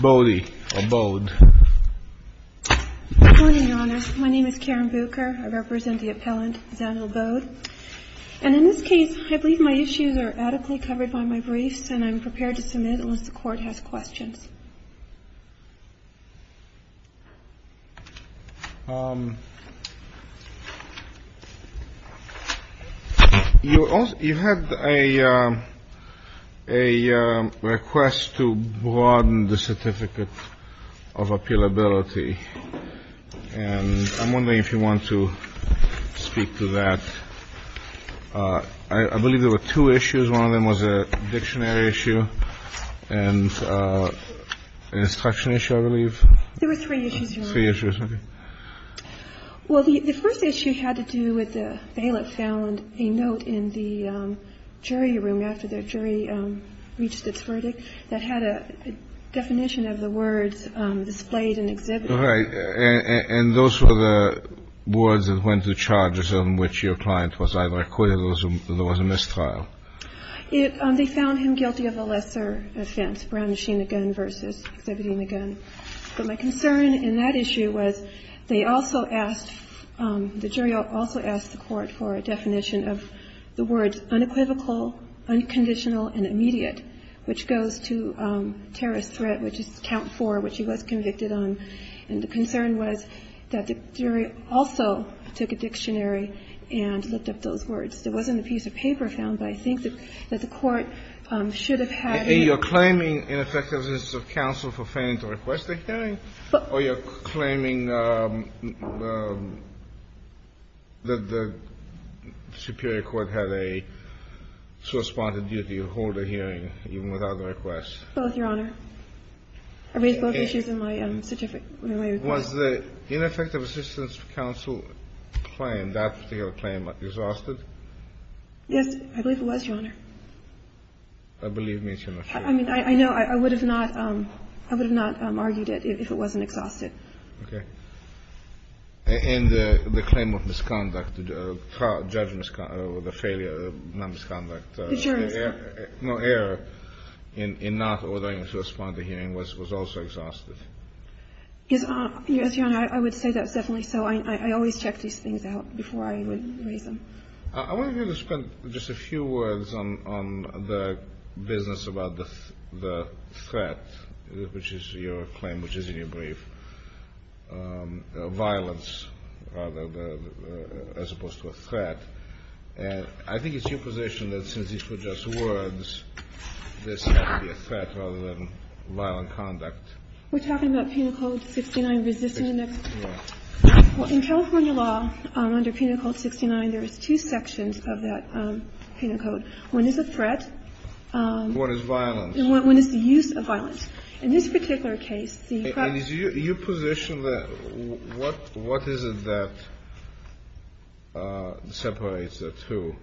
My name is Karen Bucher. I represent the appellant, Zanil Bode. And in this case, I believe my issues are adequately covered by my briefs, and I'm prepared to submit unless the Court has questions. You had a request to broaden the Certificate of Appealability, and I'm wondering if you want to speak to that. I believe there were two issues. One of them was a dictionary issue and an instruction issue, I believe. There were three issues, Your Honor. Three issues. Okay. Well, the first issue had to do with the bailiff found a note in the jury room after the jury reached its verdict that had a definition of the words displayed and exhibited. All right. And those were the words that went to charges on which your client was either acquitted or there was a mistrial. They found him guilty of a lesser offense, brown-machined the gun versus exhibiting the gun. But my concern in that issue was they also asked, the jury also asked the Court for a definition of the words unequivocal, unconditional, and immediate, which goes to terrorist threat, which is count four, which he was convicted on. And the concern was that the jury also took a dictionary and looked up those words. There wasn't a piece of paper found, but I think that the Court should have had a ---- You're claiming ineffectiveness of counsel for failing to request a hearing? Or you're claiming that the superior court had a sort of spontaneity to hold a hearing even without a request? Both, Your Honor. I raised both issues in my certificate. Was the ineffective assistance for counsel claim, that particular claim, exhausted? Yes. I believe it was, Your Honor. I believe it means you're not sure. I mean, I know. I would have not argued it if it wasn't exhausted. Okay. And the claim of misconduct, the judge misconduct or the failure of non-misconduct? The jurors. No error in not ordering him to respond to hearing was also exhausted. Yes, Your Honor. I would say that's definitely so. I always check these things out before I would raise them. I want you to spend just a few words on the business about the threat, which is your claim, which is in your brief, violence as opposed to a threat. And I think it's your position that since these were just words, this had to be a threat rather than violent conduct. We're talking about Penal Code 69 resisting the next? Yes. Well, in California law under Penal Code 69, there is two sections of that Penal Code. One is a threat. One is violence. And one is the use of violence. In this particular case, the crime of assault. So what is it that separates the two?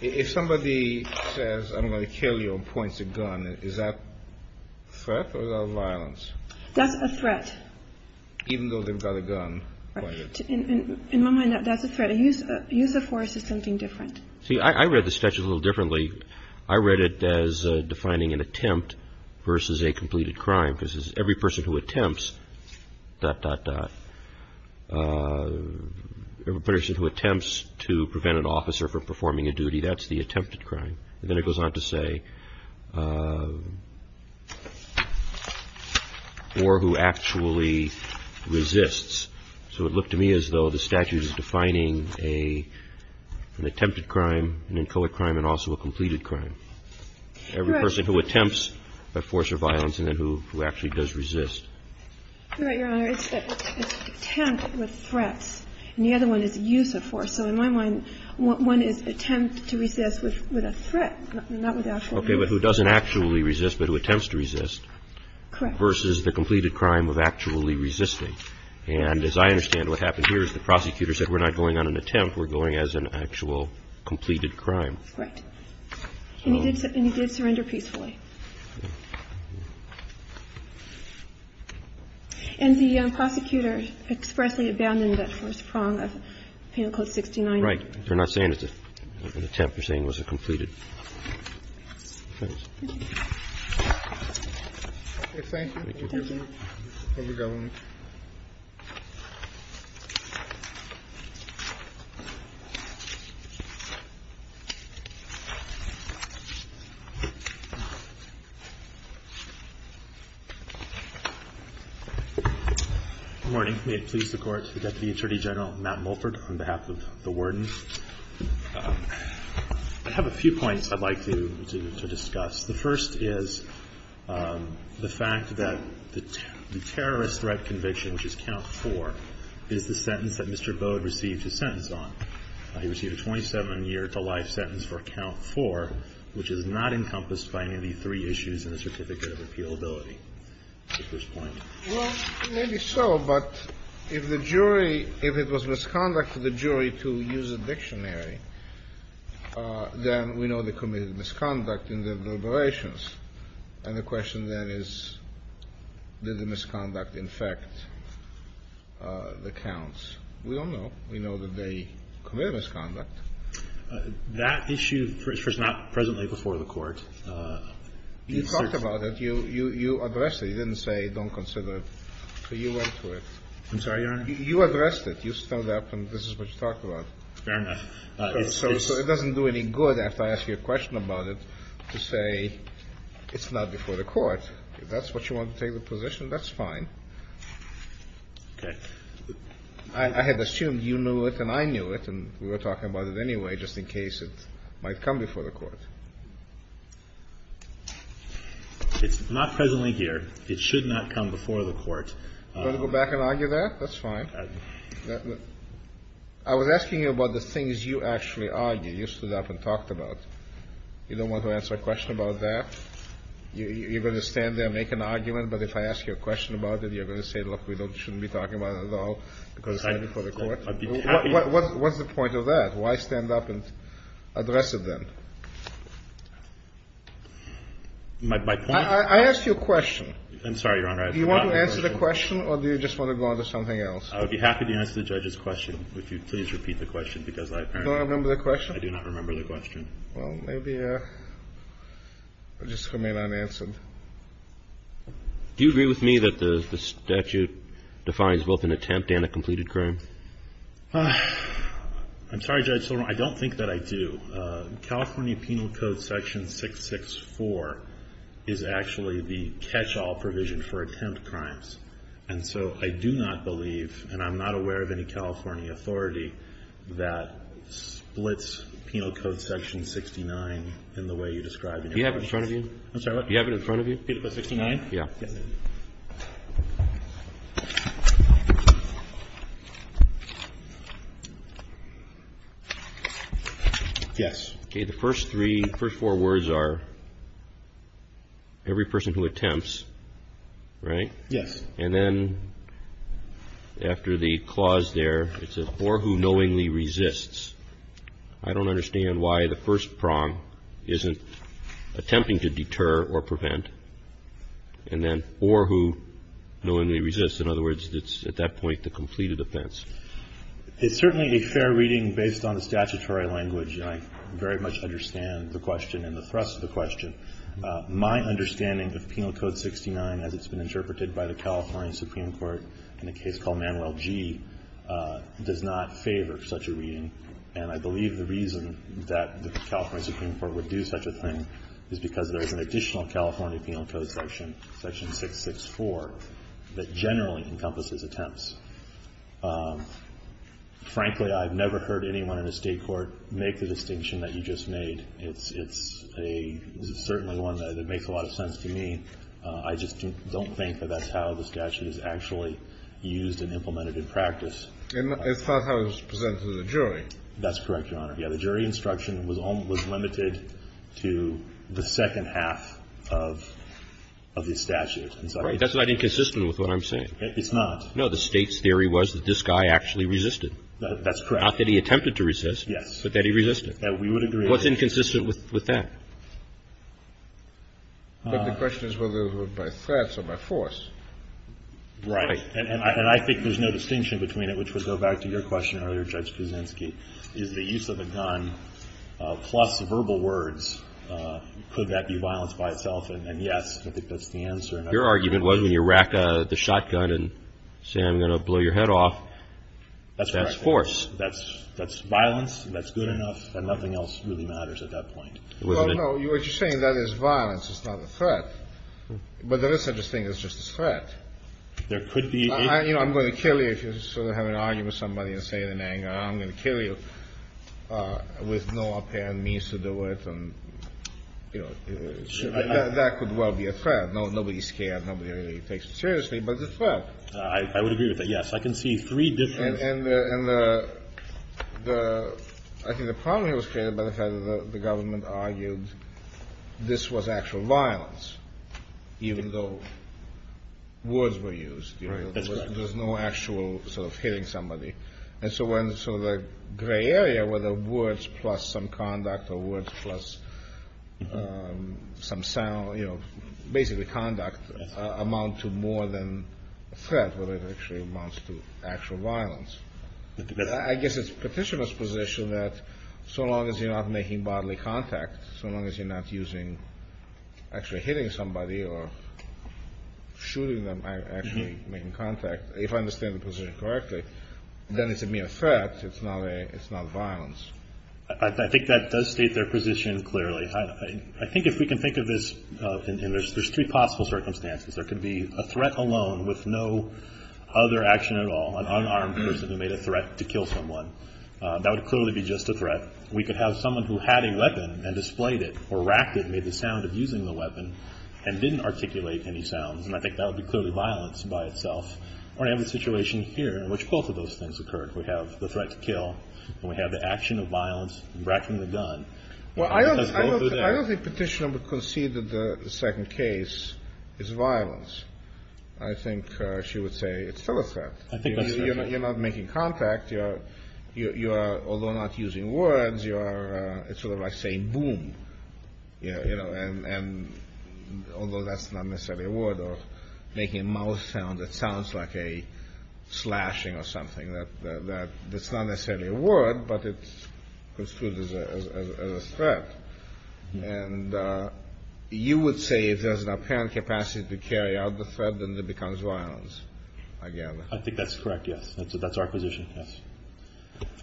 If somebody says I'm going to kill you and points a gun, is that threat or is that violence? That's a threat. Even though they've got a gun pointed? In my mind, that's a threat. A use of force is something different. See, I read the statute a little differently. I read it as defining an attempt versus a completed crime. Because every person who attempts, dot, dot, dot, every person who attempts to prevent an officer from performing a duty, that's the attempted crime. And then it goes on to say or who actually resists. So it looked to me as though the statute is defining an attempted crime, an inchoate crime, and also a completed crime. Correct. Every person who attempts a force of violence and then who actually does resist. Correct, Your Honor. It's attempt with threats. And the other one is use of force. So in my mind, one is attempt to resist with a threat, not with actual use. Okay. But who doesn't actually resist but who attempts to resist. Correct. Versus the completed crime of actually resisting. And as I understand, what happened here is the prosecutor said we're not going on an attempt. We're going as an actual completed crime. Correct. And he did surrender peacefully. And the prosecutor expressly abandoned that first prong of Penal Code 69. Right. They're not saying it's an attempt. They're saying it was a completed. Thanks. Thank you. Here we go. Good morning. May it please the Court. Deputy Attorney General Matt Mulford on behalf of the Warden. I have a few points I'd like to discuss. The first is the fact that the terrorist threat conviction, which is Count 4, is the sentence that Mr. Bode received his sentence on. He received a 27-year-to-life sentence for Count 4, which is not encompassed by any of the three issues in the Certificate of Appealability. At this point. Well, maybe so, but if the jury, if it was misconduct for the jury to use a dictionary, then we know they committed misconduct in their deliberations. And the question then is, did the misconduct infect the counts? We don't know. We know that they committed misconduct. That issue is not presently before the Court. You talked about it. You addressed it. You didn't say don't consider it. So you went to it. I'm sorry, Your Honor? You addressed it. You stood up and this is what you talked about. Fair enough. So it doesn't do any good, after I ask you a question about it, to say it's not before the Court. If that's what you want to take the position, that's fine. Okay. I had assumed you knew it and I knew it, and we were talking about it anyway, just in case it might come before the Court. It's not presently here. It should not come before the Court. Do you want to go back and argue that? That's fine. I was asking you about the things you actually argue, you stood up and talked about. You don't want to answer a question about that? You're going to stand there and make an argument, but if I ask you a question about it, you're going to say, look, we shouldn't be talking about it at all because it's not before the Court? What's the point of that? Why stand up and address it then? My point? I asked you a question. I'm sorry, Your Honor. Do you want to answer the question or do you just want to go on to something else? I would be happy to answer the judge's question if you'd please repeat the question because I apparently do not remember the question. I do not remember the question. Well, maybe I'll just remain unanswered. Do you agree with me that the statute defines both an attempt and a completed crime? I'm sorry, Judge Silverman, I don't think that I do. California Penal Code section 664 is actually the catch-all provision for attempt crimes. And so I do not believe and I'm not aware of any California authority that splits Penal Code section 69 in the way you describe it. Do you have it in front of you? I'm sorry, what? Do you have it in front of you? Penal Code 69? Yeah. Yes. Okay. The first three, first four words are every person who attempts, right? Yes. And then after the clause there, it says, or who knowingly resists. I don't understand why the first prong isn't attempting to deter or prevent. And then or who knowingly resists. In other words, it's at that point the completed offense. It's certainly a fair reading based on the statutory language, and I very much understand the question and the thrust of the question. My understanding of Penal Code 69, as it's been interpreted by the California Supreme Court in a case called Manuel G., does not favor such a reading. And I believe the reason that the California Supreme Court would do such a thing is because there is an additional California Penal Code section, section 664, that generally encompasses attempts. Frankly, I've never heard anyone in a state court make the distinction that you just made. It's a certainly one that makes a lot of sense to me. I just don't think that that's how the statute is actually used and implemented in practice. And it's not how it's presented to the jury. That's correct, Your Honor. Yeah. The jury instruction was limited to the second half of the statute. Right. That's not inconsistent with what I'm saying. It's not. No. The State's theory was that this guy actually resisted. That's correct. Not that he attempted to resist. Yes. But that he resisted. We would agree. What's inconsistent with that? But the question is whether it was by threats or by force. Right. And I think there's no distinction between it, which would go back to your question earlier, Judge Kuczynski. Is the use of a gun plus verbal words, could that be violence by itself? And yes, I think that's the answer. Your argument was when you rack the shotgun and say I'm going to blow your head off, that's force. That's correct. That's violence. That's good enough. And nothing else really matters at that point. Well, no. What you're saying, that is violence. It's not a threat. But there is such a thing as just a threat. There could be. You know, I'm going to kill you if you sort of have an argument with somebody and say it in anger. I'm going to kill you with no apparent means to do it. And, you know, that could well be a threat. Nobody's scared. Nobody really takes it seriously. But it's a threat. I would agree with that. Yes. I can see three different. And I think the problem here was created by the fact that the government argued this was actual violence, even though words were used. That's correct. There's no actual sort of hitting somebody. And so when sort of the gray area where the words plus some conduct or words plus some sound, you know, basically conduct amount to more than threat, whether it actually amounts to actual violence. I guess it's petitioner's position that so long as you're not making bodily contact, so long as you're not using actually hitting somebody or shooting them, you're not actually making contact. If I understand the position correctly, then it's a mere threat. It's not violence. I think that does state their position clearly. I think if we can think of this, there's three possible circumstances. There could be a threat alone with no other action at all, an unarmed person who made a threat to kill someone. That would clearly be just a threat. We could have someone who had a weapon and displayed it or racked it and made the sound of using the weapon and didn't articulate any sounds. And I think that would be clearly violence by itself. Or I have a situation here in which both of those things occurred. We have the threat to kill, and we have the action of violence and racking the gun. Well, I don't think petitioner would concede that the second case is violence. I think she would say it's still a threat. I think that's true. You're not making contact. You are, although not using words, you are sort of like saying boom. And although that's not necessarily a word or making a mouth sound that sounds like a slashing or something. That's not necessarily a word, but it's construed as a threat. And you would say if there's an apparent capacity to carry out the threat, then it becomes violence. I think that's correct, yes. That's our position, yes.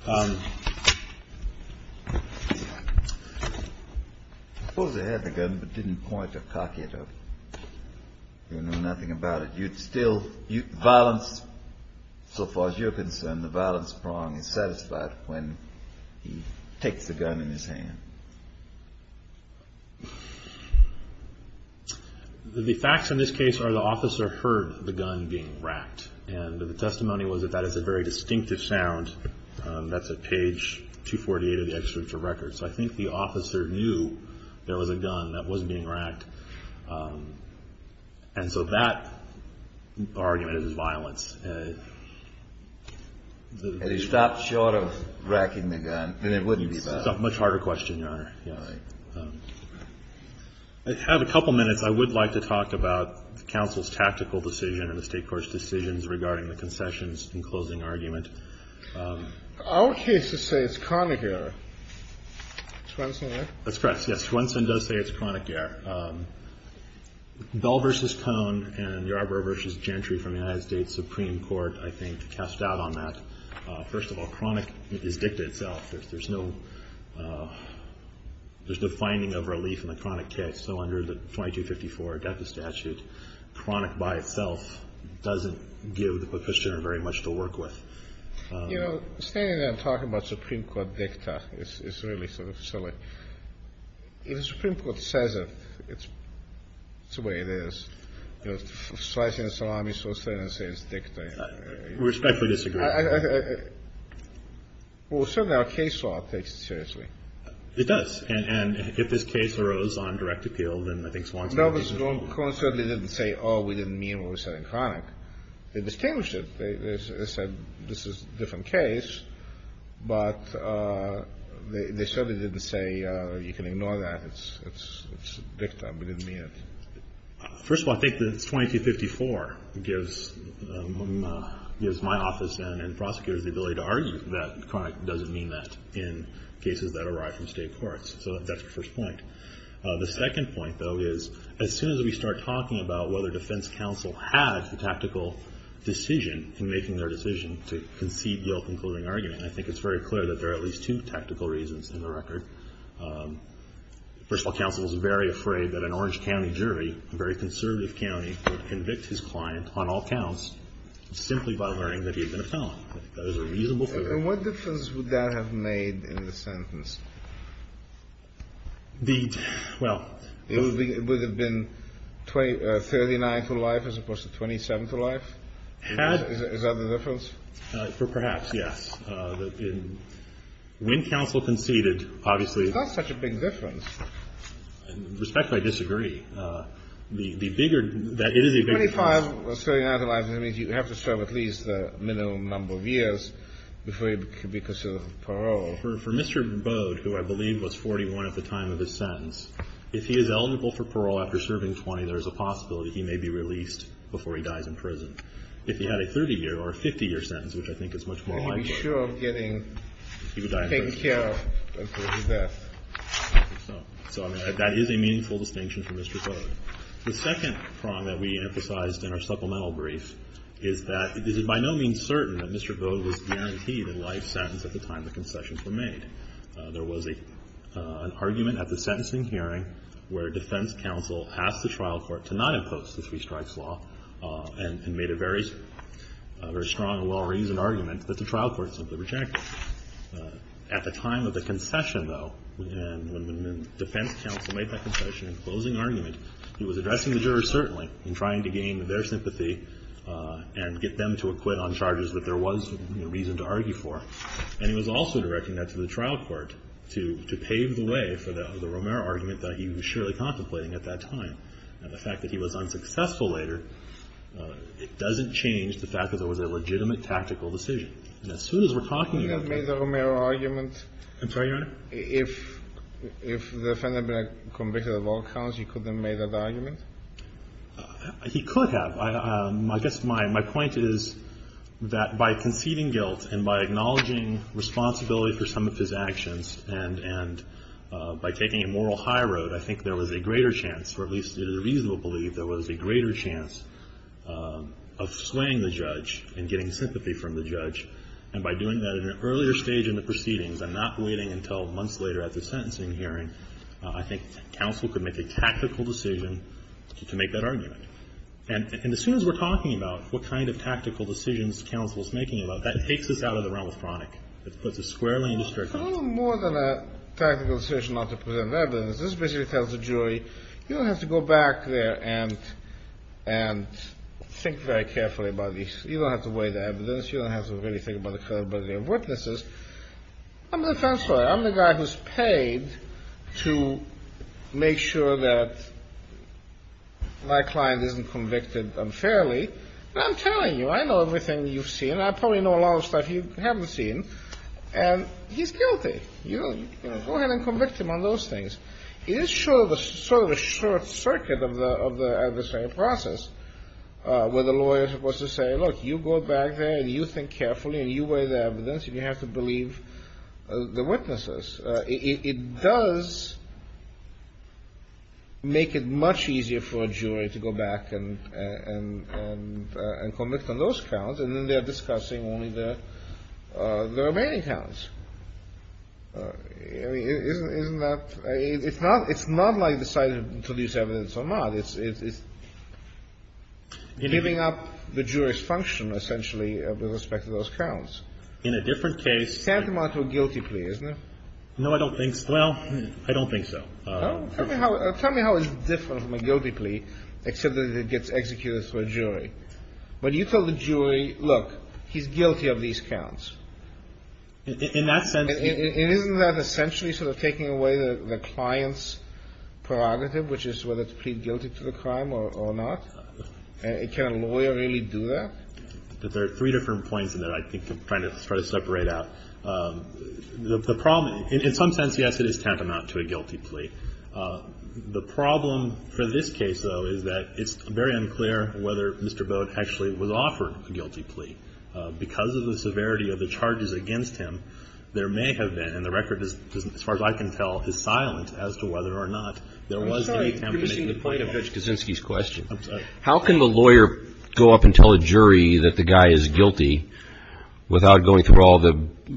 I suppose they had the gun but didn't point or cock it or knew nothing about it. You'd still, violence, so far as you're concerned, the violence prong is satisfied when he takes the gun in his hand. The facts in this case are the officer heard the gun being racked. And the testimony was that that is a very distinctive sound. That's at page 248 of the executive record. So I think the officer knew there was a gun that wasn't being racked. And so that argument is violence. Had he stopped short of racking the gun, then it wouldn't be bad. It's a much harder question, Your Honor. I have a couple minutes. I would like to talk about the counsel's tactical decision and the state court's decisions regarding the concessions and closing argument. Our cases say it's chronic error. That's correct. Yes, Swenson does say it's chronic error. Bell v. Cohn and Yarbrough v. Gentry from the United States Supreme Court, I think, cast doubt on that. First of all, chronic is dicta itself. There's no finding of relief in the chronic case. So under the 2254 death statute, chronic by itself doesn't give the petitioner very much to work with. You know, standing there and talking about Supreme Court dicta is really sort of silly. If the Supreme Court says it, it's the way it is. You know, slicing a salami so certain it says dicta. We respectfully disagree. Well, certainly our case law takes it seriously. It does. And if this case arose on direct appeal, then I think Swenson would be in trouble. No, because Cohn certainly didn't say, oh, we didn't mean what we said in chronic. They distinguished it. They said this is a different case. But they certainly didn't say you can ignore that. It's dicta. We didn't mean it. First of all, I think that 2254 gives my office and prosecutors the ability to argue that chronic doesn't mean that in cases that arrive from state courts. So that's the first point. The second point, though, is as soon as we start talking about whether defense counsel had the tactical decision in making their decision to concede the all-concluding argument, I think it's very clear that there are at least two tactical reasons in the record. First of all, counsel is very afraid that an Orange County jury, a very conservative county, would convict his client on all counts simply by learning that he had been a felon. I think that is a reasonable theory. And what difference would that have made in the sentence? Well, it would have been 39 for life as opposed to 27 for life? Is that the difference? Perhaps, yes. When counsel conceded, obviously. That's such a big difference. Respectfully, I disagree. The bigger that it is a big difference. No, I was trying to analyze it. I mean, you have to serve at least a minimum number of years before you can be considered for parole. For Mr. Bode, who I believe was 41 at the time of his sentence, if he is eligible for parole after serving 20, there is a possibility he may be released before he dies in prison. If he had a 30-year or a 50-year sentence, which I think is much more likely, he would die in prison. So I mean, that is a meaningful distinction for Mr. Bode. The second prong that we emphasized in our supplemental brief is that it is by no means certain that Mr. Bode was guaranteed a life sentence at the time the concessions were made. There was an argument at the sentencing hearing where defense counsel asked the trial court to not impose the three strikes law and made a very strong and well-reasoned argument that the trial court simply rejected. At the time of the concession, though, when the defense counsel made that concession and closing argument, he was addressing the jurors, certainly, in trying to gain their sympathy and get them to acquit on charges that there was reason to argue for. And he was also directing that to the trial court to pave the way for the Romero argument that he was surely contemplating at that time. And the fact that he was unsuccessful later, it doesn't change the fact that it was a legitimate, tactical decision. And as soon as we're talking about that ---- I'm sorry, Your Honor? If the defendant had been a convicted of all counts, he couldn't have made that argument? He could have. I guess my point is that by conceding guilt and by acknowledging responsibility for some of his actions and by taking a moral high road, I think there was a greater chance, or at least it is a reasonable belief, there was a greater chance of swaying the judge and getting sympathy from the judge. And by doing that at an earlier stage in the proceedings and not waiting until months later at the sentencing hearing, I think counsel could make a tactical decision to make that argument. And as soon as we're talking about what kind of tactical decisions counsel is making about that, it takes us out of the realm of chronic. It puts us squarely in district court. Well, it's a little more than a tactical decision not to present evidence. This basically tells the jury, you don't have to go back there and think very carefully about these. You don't have to weigh the evidence. You don't have to really think about the credibility of witnesses. I'm the defense lawyer. I'm the guy who's paid to make sure that my client isn't convicted unfairly. And I'm telling you, I know everything you've seen. I probably know a lot of stuff you haven't seen. And he's guilty. Go ahead and convict him on those things. It is sort of a short circuit of the process where the lawyer is supposed to say, look, you go back there and you think carefully and you weigh the evidence and you have to believe the witnesses. It does make it much easier for a jury to go back and convict on those counts. And then they're discussing only the remaining counts. I mean, isn't that – it's not like deciding to lose evidence or not. It's giving up the jury's function, essentially, with respect to those counts. In a different case – Send him on to a guilty plea, isn't it? No, I don't think so. Well, I don't think so. Tell me how it's different from a guilty plea, except that it gets executed through a jury. When you tell the jury, look, he's guilty of these counts. In that sense – Isn't that essentially sort of taking away the client's prerogative, which is whether to plead guilty to the crime or not? Can a lawyer really do that? There are three different points in there I think I'm trying to separate out. The problem – in some sense, yes, it is tantamount to a guilty plea. The problem for this case, though, is that it's very unclear whether Mr. Boat actually was offered a guilty plea. Because of the severity of the charges against him, there may have been, and the record, as far as I can tell, is silent as to whether or not there was any attempt to make the plea happen. I'm sorry. You're missing the point of Judge Kaczynski's question. I'm sorry. How can the lawyer go up and tell a jury that the guy is guilty without going through all the –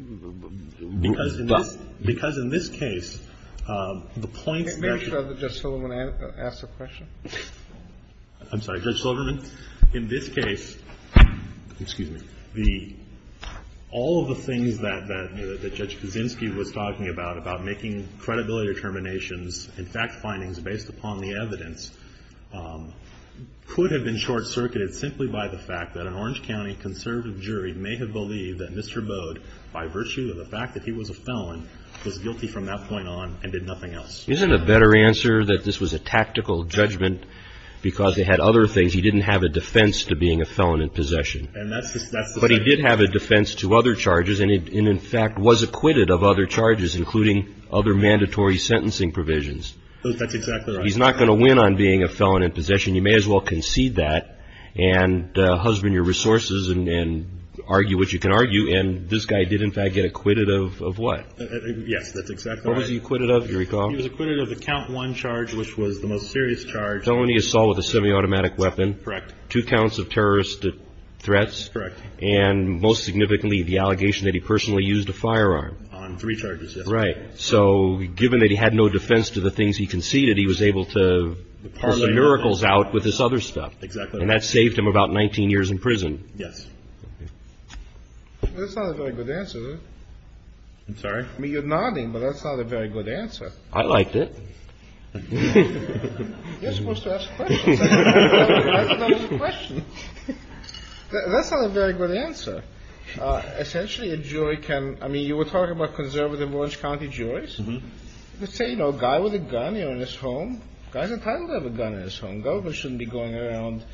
Because in this – because in this case, the points that – Maybe should I let Judge Silverman ask the question? I'm sorry. In this case, the – all of the things that Judge Kaczynski was talking about, about making credibility determinations and fact findings based upon the evidence, could have been short-circuited simply by the fact that an Orange County conservative jury may have believed that Mr. Boat, by virtue of the fact that he was a felon, was guilty from that point on and did nothing else. Isn't it a better answer that this was a tactical judgment because it had other things? He didn't have a defense to being a felon in possession. And that's just – But he did have a defense to other charges and in fact was acquitted of other charges, including other mandatory sentencing provisions. That's exactly right. He's not going to win on being a felon in possession. You may as well concede that and husband your resources and argue what you can argue. And this guy did, in fact, get acquitted of what? Yes, that's exactly right. What was he acquitted of, do you recall? He was acquitted of the count one charge, which was the most serious charge. felony assault with a semi-automatic weapon. Correct. Two counts of terrorist threats. Correct. And most significantly, the allegation that he personally used a firearm. On three charges, yes. Right. So given that he had no defense to the things he conceded, he was able to pull some miracles out with this other stuff. Exactly right. And that saved him about 19 years in prison. Yes. That's not a very good answer, is it? I'm sorry? I mean, you're nodding, but that's not a very good answer. I liked it. You're supposed to ask questions. That's not a very good answer. Essentially, a jury can – I mean, you were talking about conservative Orange County juries. Let's say, you know, a guy with a gun here in his home. A guy's entitled to have a gun in his home. The government shouldn't be going around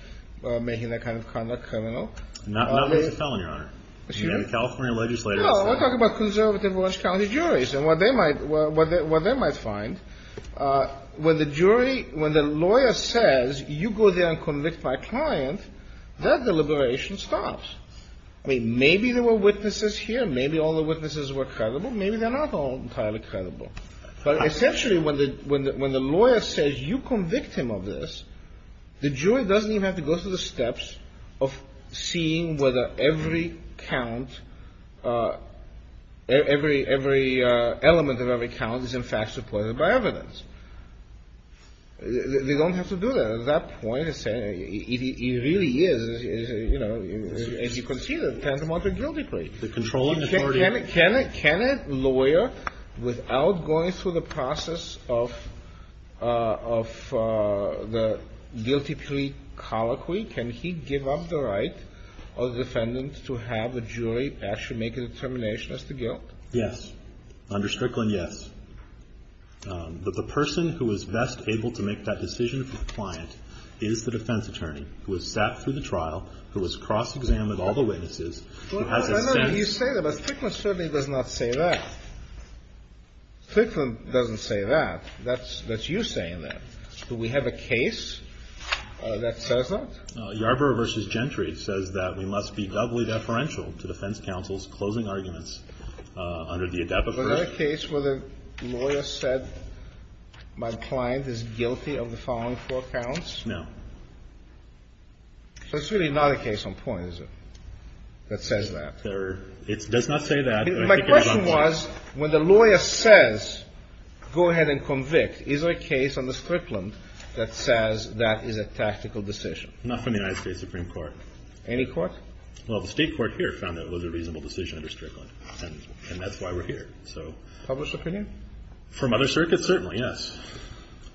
making that kind of conduct criminal. Not with a felon, Your Honor. Excuse me? The California legislators. No, we're talking about conservative Orange County juries. And what they might find, when the jury – when the lawyer says, you go there and convict my client, that deliberation stops. I mean, maybe there were witnesses here. Maybe all the witnesses were credible. Maybe they're not all entirely credible. But essentially, when the lawyer says, you convict him of this, the jury doesn't even have to go through the steps of seeing whether every count – every element of every count is, in fact, supported by evidence. They don't have to do that. At that point, it really is, you know, as you can see, the Tantamount to a guilty plea. The controlling authority. Can a lawyer, without going through the process of the guilty plea colloquy, can he give up the right of the defendant to have a jury actually make a determination as to guilt? Yes. Under Strickland, yes. But the person who is best able to make that decision for the client is the defense attorney, who has sat through the trial, who has cross-examined all the witnesses. No, no, no. You say that, but Strickland certainly does not say that. Strickland doesn't say that. That's you saying that. Do we have a case that says that? Yarborough v. Gentry says that we must be doubly deferential to defense counsel's closing arguments under the ADEPA version. Was there a case where the lawyer said my client is guilty of the following four counts? No. So it's really not a case on point, is it? That says that. It does not say that. My question was, when the lawyer says go ahead and convict, is there a case under Strickland that says that is a tactical decision? Not from the United States Supreme Court. Any court? Well, the state court here found that it was a reasonable decision under Strickland, and that's why we're here. Published opinion? From other circuits, certainly, yes.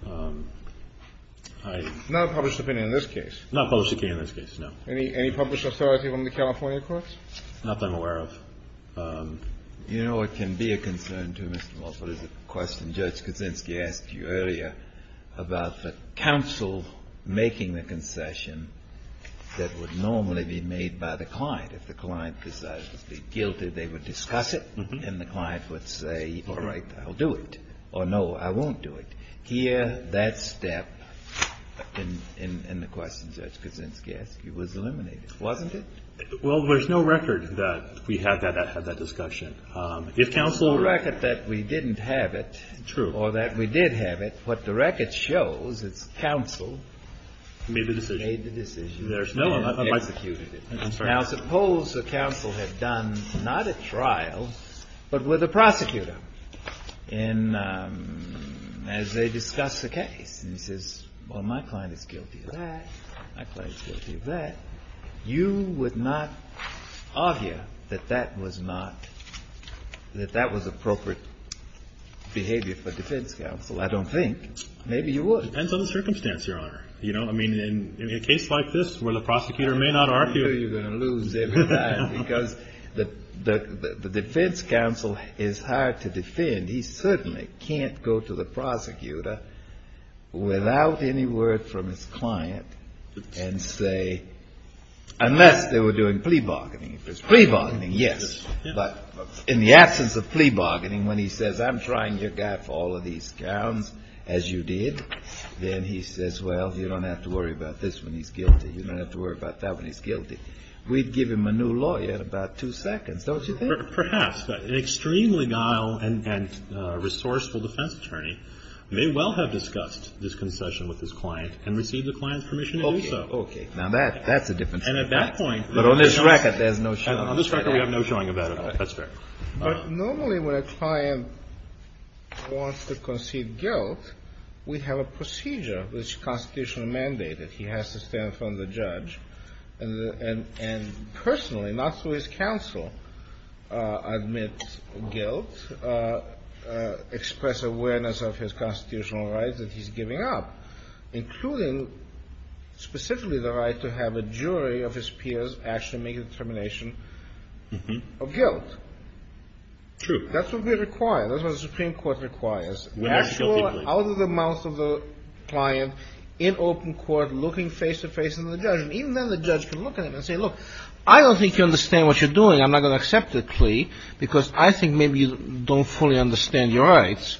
Not a published opinion in this case. Not a published opinion in this case, no. Any published authority from the California courts? Not that I'm aware of. You know what can be a concern, too, Mr. Mulford, is the question Judge Kaczynski asked you earlier about the counsel making the concession that would normally be made by the client. If the client decided to be guilty, they would discuss it, and the client would say, all right, I'll do it. Or, no, I won't do it. Here, that step in the question, Judge Kaczynski asked you, was eliminated, wasn't it? Well, there's no record that we had that discussion. There's no record that we didn't have it. True. Or that we did have it. What the record shows is counsel made the decision. Made the decision. There's no one that executed it. I'm sorry. Now, suppose the counsel had done not a trial, but with a prosecutor. And as they discuss the case, and he says, well, my client is guilty of that. My client is guilty of that. You would not argue that that was appropriate behavior for defense counsel. I don't think. Maybe you would. Depends on the circumstance, Your Honor. I mean, in a case like this where the prosecutor may not argue. I'm sure you're going to lose every time. Because the defense counsel is hard to defend. He certainly can't go to the prosecutor without any word from his client and say, unless they were doing plea bargaining. If it's plea bargaining, yes. But in the absence of plea bargaining, when he says, I'm trying your guy for all of these scams, as you did. Then he says, well, you don't have to worry about this when he's guilty. You don't have to worry about that when he's guilty. We'd give him a new lawyer in about two seconds, don't you think? Perhaps. But an extremely guile and resourceful defense attorney may well have discussed this concession with his client and received the client's permission to do so. Okay. Now, that's a different story. And at that point. But on this record, there's no showing. On this record, we have no showing about it. That's fair. But normally when a client wants to concede guilt, we have a procedure which the Constitution mandated. He has to stand in front of the judge and personally, not through his counsel, admit guilt, express awareness of his constitutional rights that he's giving up, including specifically the right to have a jury of his peers actually make a determination of guilt. True. That's what we require. That's what the Supreme Court requires. Actual, out of the mouth of the client, in open court, looking face-to-face with the judge. Even then the judge can look at him and say, look, I don't think you understand what you're doing. I'm not going to accept it, plea, because I think maybe you don't fully understand your rights.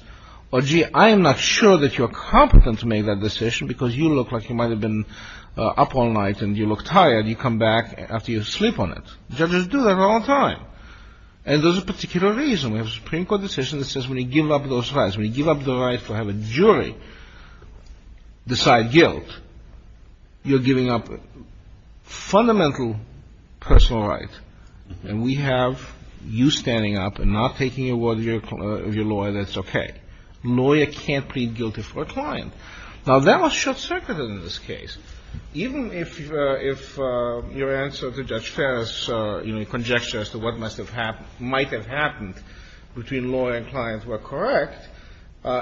Or, gee, I'm not sure that you're competent to make that decision because you look like you might have been up all night and you look tired. You come back after you sleep on it. Judges do that all the time. And there's a particular reason. We have a Supreme Court decision that says when you give up those rights, when you give up the right to have a jury decide guilt, you're giving up fundamental personal rights. And we have you standing up and not taking a word of your lawyer that's okay. A lawyer can't plead guilty for a client. Now, that was short-circuited in this case. Even if your answer to Judge Ferris, you know, conjecture as to what must have happened or might have happened between lawyer and client were correct,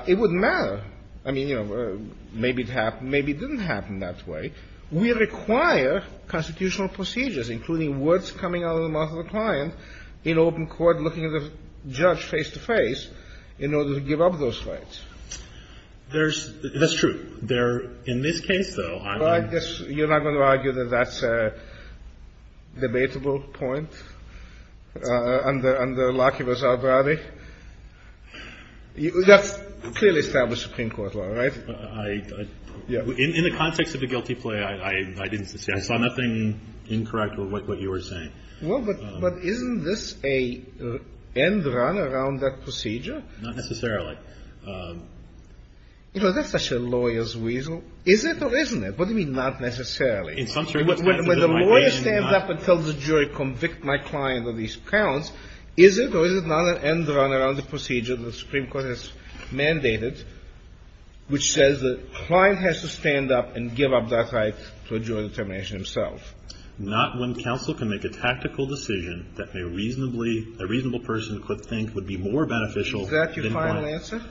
it wouldn't matter. I mean, you know, maybe it happened, maybe it didn't happen that way. We require constitutional procedures, including words coming out of the mouth of the client in open court looking at the judge face-to-face in order to give up those rights. There's – that's true. There – in this case, though, I mean – Well, I guess you're not going to argue that that's a debatable point under Lockheed Vazard-Rabbi? That's clearly established Supreme Court law, right? I – in the context of the guilty plea, I didn't see – I saw nothing incorrect with what you were saying. Well, but isn't this an end run around that procedure? Not necessarily. You know, that's such a lawyer's weasel. Is it or isn't it? What do you mean, not necessarily? In some circumstances, it might be. When the lawyer stands up and tells the jury, convict my client of these counts, is it or is it not an end run around the procedure that the Supreme Court has mandated, which says the client has to stand up and give up that right to a jury determination himself? Not when counsel can make a tactical decision that may reasonably – a reasonable person could think would be more beneficial than when – Is that your final answer?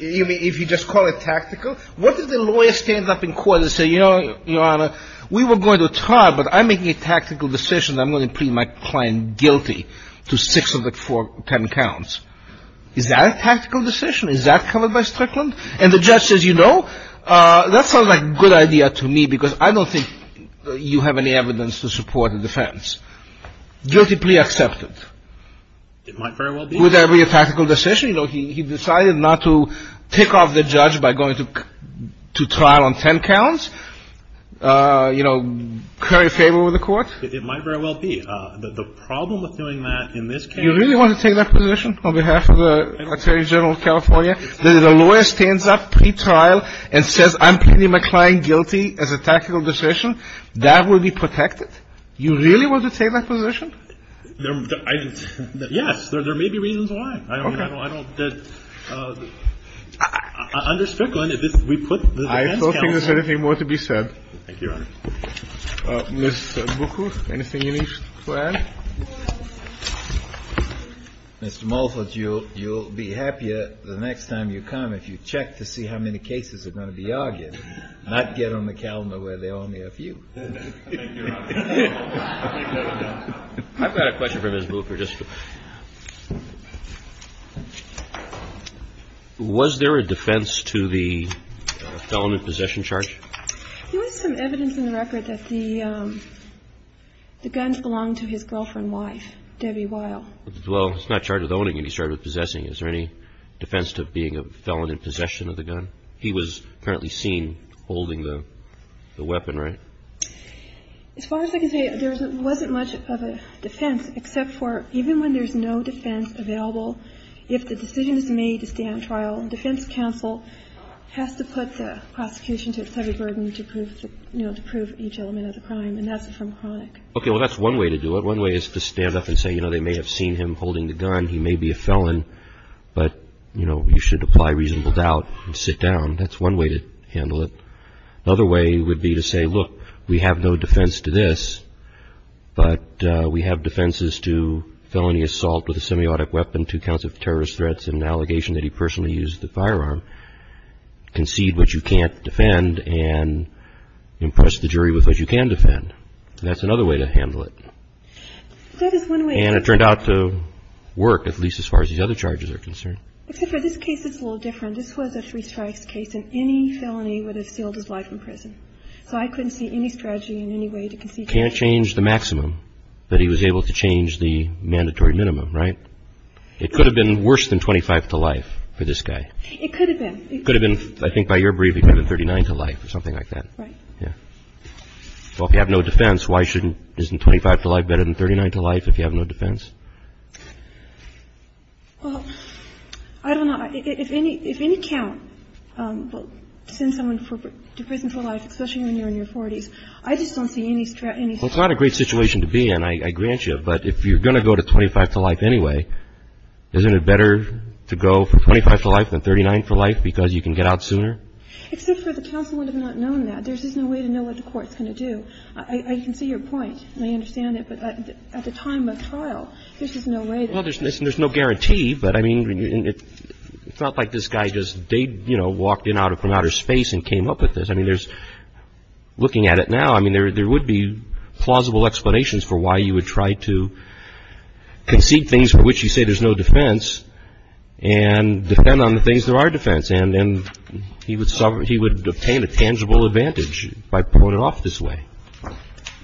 If you just call it tactical? What if the lawyer stands up in court and says, you know, Your Honor, we were going to try, but I'm making a tactical decision that I'm going to plead my client guilty to six of the four – ten counts? Is that a tactical decision? Is that covered by Strickland? And the judge says, you know, that sounds like a good idea to me because I don't think you have any evidence to support the defense. Guilty plea accepted. It might very well be. Would that be a tactical decision? You know, he decided not to take off the judge by going to trial on ten counts. You know, curry favor with the court? It might very well be. The problem with doing that in this case – You really want to take that position on behalf of the Attorney General of California, that if the lawyer stands up pre-trial and says, I'm pleading my client guilty as a tactical decision, that would be protected? You really want to take that position? I – yes. There may be reasons why. Okay. I don't – under Strickland, if we put the defense – I don't think there's anything more to be said. Thank you, Your Honor. Ms. Buchuth, anything you need to add? Mr. Mulford, you'll be happier the next time you come if you check to see how many cases are going to be argued, not get on the calendar where there are only a few. Thank you, Your Honor. I've got a question for Ms. Buchuth. Was there a defense to the felon in possession charge? There was some evidence in the record that the guns belonged to his girlfriend's wife, Debbie Weil. Well, he's not charged with owning it. He's charged with possessing it. Is there any defense to being a felon in possession of the gun? He was apparently seen holding the weapon, right? As far as I can say, there wasn't much of a defense, except for even when there's no defense available, if the decision is made to stand trial, the defense counsel has to put the prosecution to a heavy burden to prove each element of the crime, and that's from chronic. Okay. Well, that's one way to do it. One way is to stand up and say, you know, they may have seen him holding the gun, he may be a felon, but, you know, you should apply reasonable doubt and sit down. That's one way to handle it. Another way would be to say, look, we have no defense to this, but we have defenses to felony assault with a semiotic weapon, two counts of terrorist threats, and an allegation that he personally used the firearm. Concede what you can't defend and impress the jury with what you can defend. That's another way to handle it. That is one way. And it turned out to work, at least as far as these other charges are concerned. Except for this case, it's a little different. This was a three strikes case, and any felony would have sealed his life in prison. So I couldn't see any strategy in any way to concede. Can't change the maximum, but he was able to change the mandatory minimum, right? It could have been worse than 25 to life for this guy. It could have been. It could have been, I think by your brief, he could have been 39 to life or something like that. Right. Yeah. Well, if you have no defense, why shouldn't, isn't 25 to life better than 39 to life if you have no defense? Well, I don't know. If any count will send someone to prison for life, especially when you're in your 40s, I just don't see any strategy. Well, it's not a great situation to be in, I grant you. But if you're going to go to 25 to life anyway, isn't it better to go for 25 to life than 39 for life because you can get out sooner? Except for the counsel would have not known that. There's just no way to know what the court's going to do. I can see your point, and I understand it. But at the time of trial, there's just no way. Well, there's no guarantee. But, I mean, it felt like this guy just, you know, walked in from outer space and came up with this. I mean, there's, looking at it now, I mean, there would be plausible explanations for why you would try to concede things for which you say there's no defense and depend on the things there are defense. And then he would obtain a tangible advantage by pulling it off this way.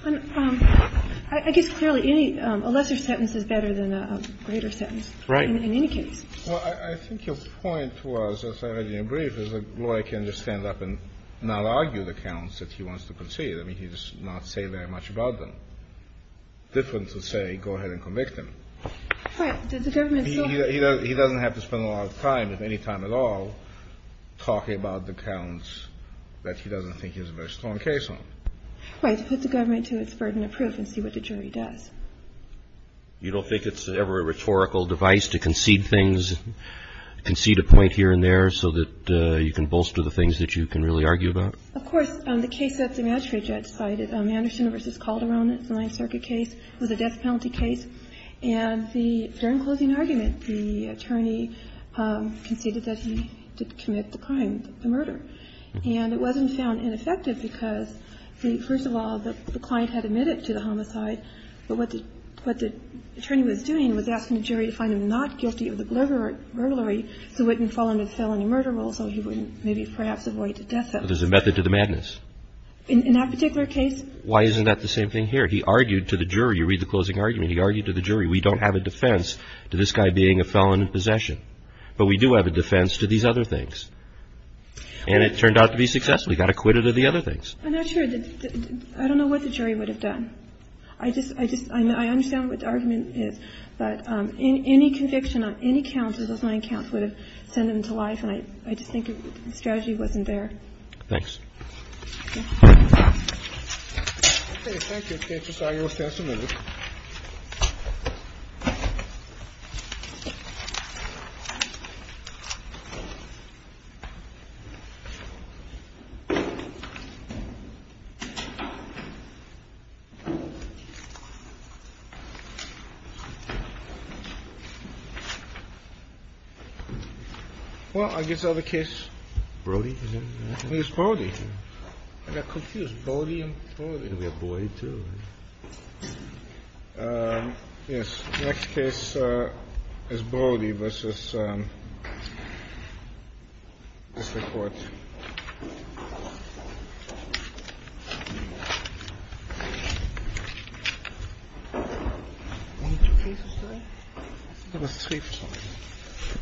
I guess, clearly, a lesser sentence is better than a greater sentence. Right. In any case. Well, I think your point was, as I read in your brief, is that Laurie can just stand up and not argue the counts that he wants to concede. I mean, he does not say very much about them. Different to say, go ahead and convict him. Right. He doesn't have to spend a lot of time, if any time at all, talking about the counts that he doesn't think he has a very strong case on. Right. To put the government to its burden of proof and see what the jury does. You don't think it's ever a rhetorical device to concede things, concede a point here and there, so that you can bolster the things that you can really argue about? Of course. The case that the magistrate judge cited, Anderson v. Calderon, the Ninth Circuit case, was a death penalty case. And the, during closing argument, the attorney conceded that he did commit the crime, the murder. And it wasn't found ineffective because, first of all, the client had admitted to the homicide, but what the attorney was doing was asking the jury to find him not guilty of the murder, so he wouldn't fall under the felony murder rule, so he wouldn't maybe perhaps avoid the death penalty. So there's a method to the madness. In that particular case. Why isn't that the same thing here? He argued to the jury. You read the closing argument. He argued to the jury. We don't have a defense to this guy being a felon in possession. But we do have a defense to these other things. And it turned out to be successful. He got acquitted of the other things. I'm not sure. I don't know what the jury would have done. I just, I understand what the argument is. But any conviction on any counts of those nine counts would have sent him to life, and I just think the strategy wasn't there. Thanks. Thank you. Well, I guess other case Brody is Brody. I got confused. Brody and Brody. We have Brody too. Yes. Next case is Brody versus District Court. Only two cases today? I think it was three or something.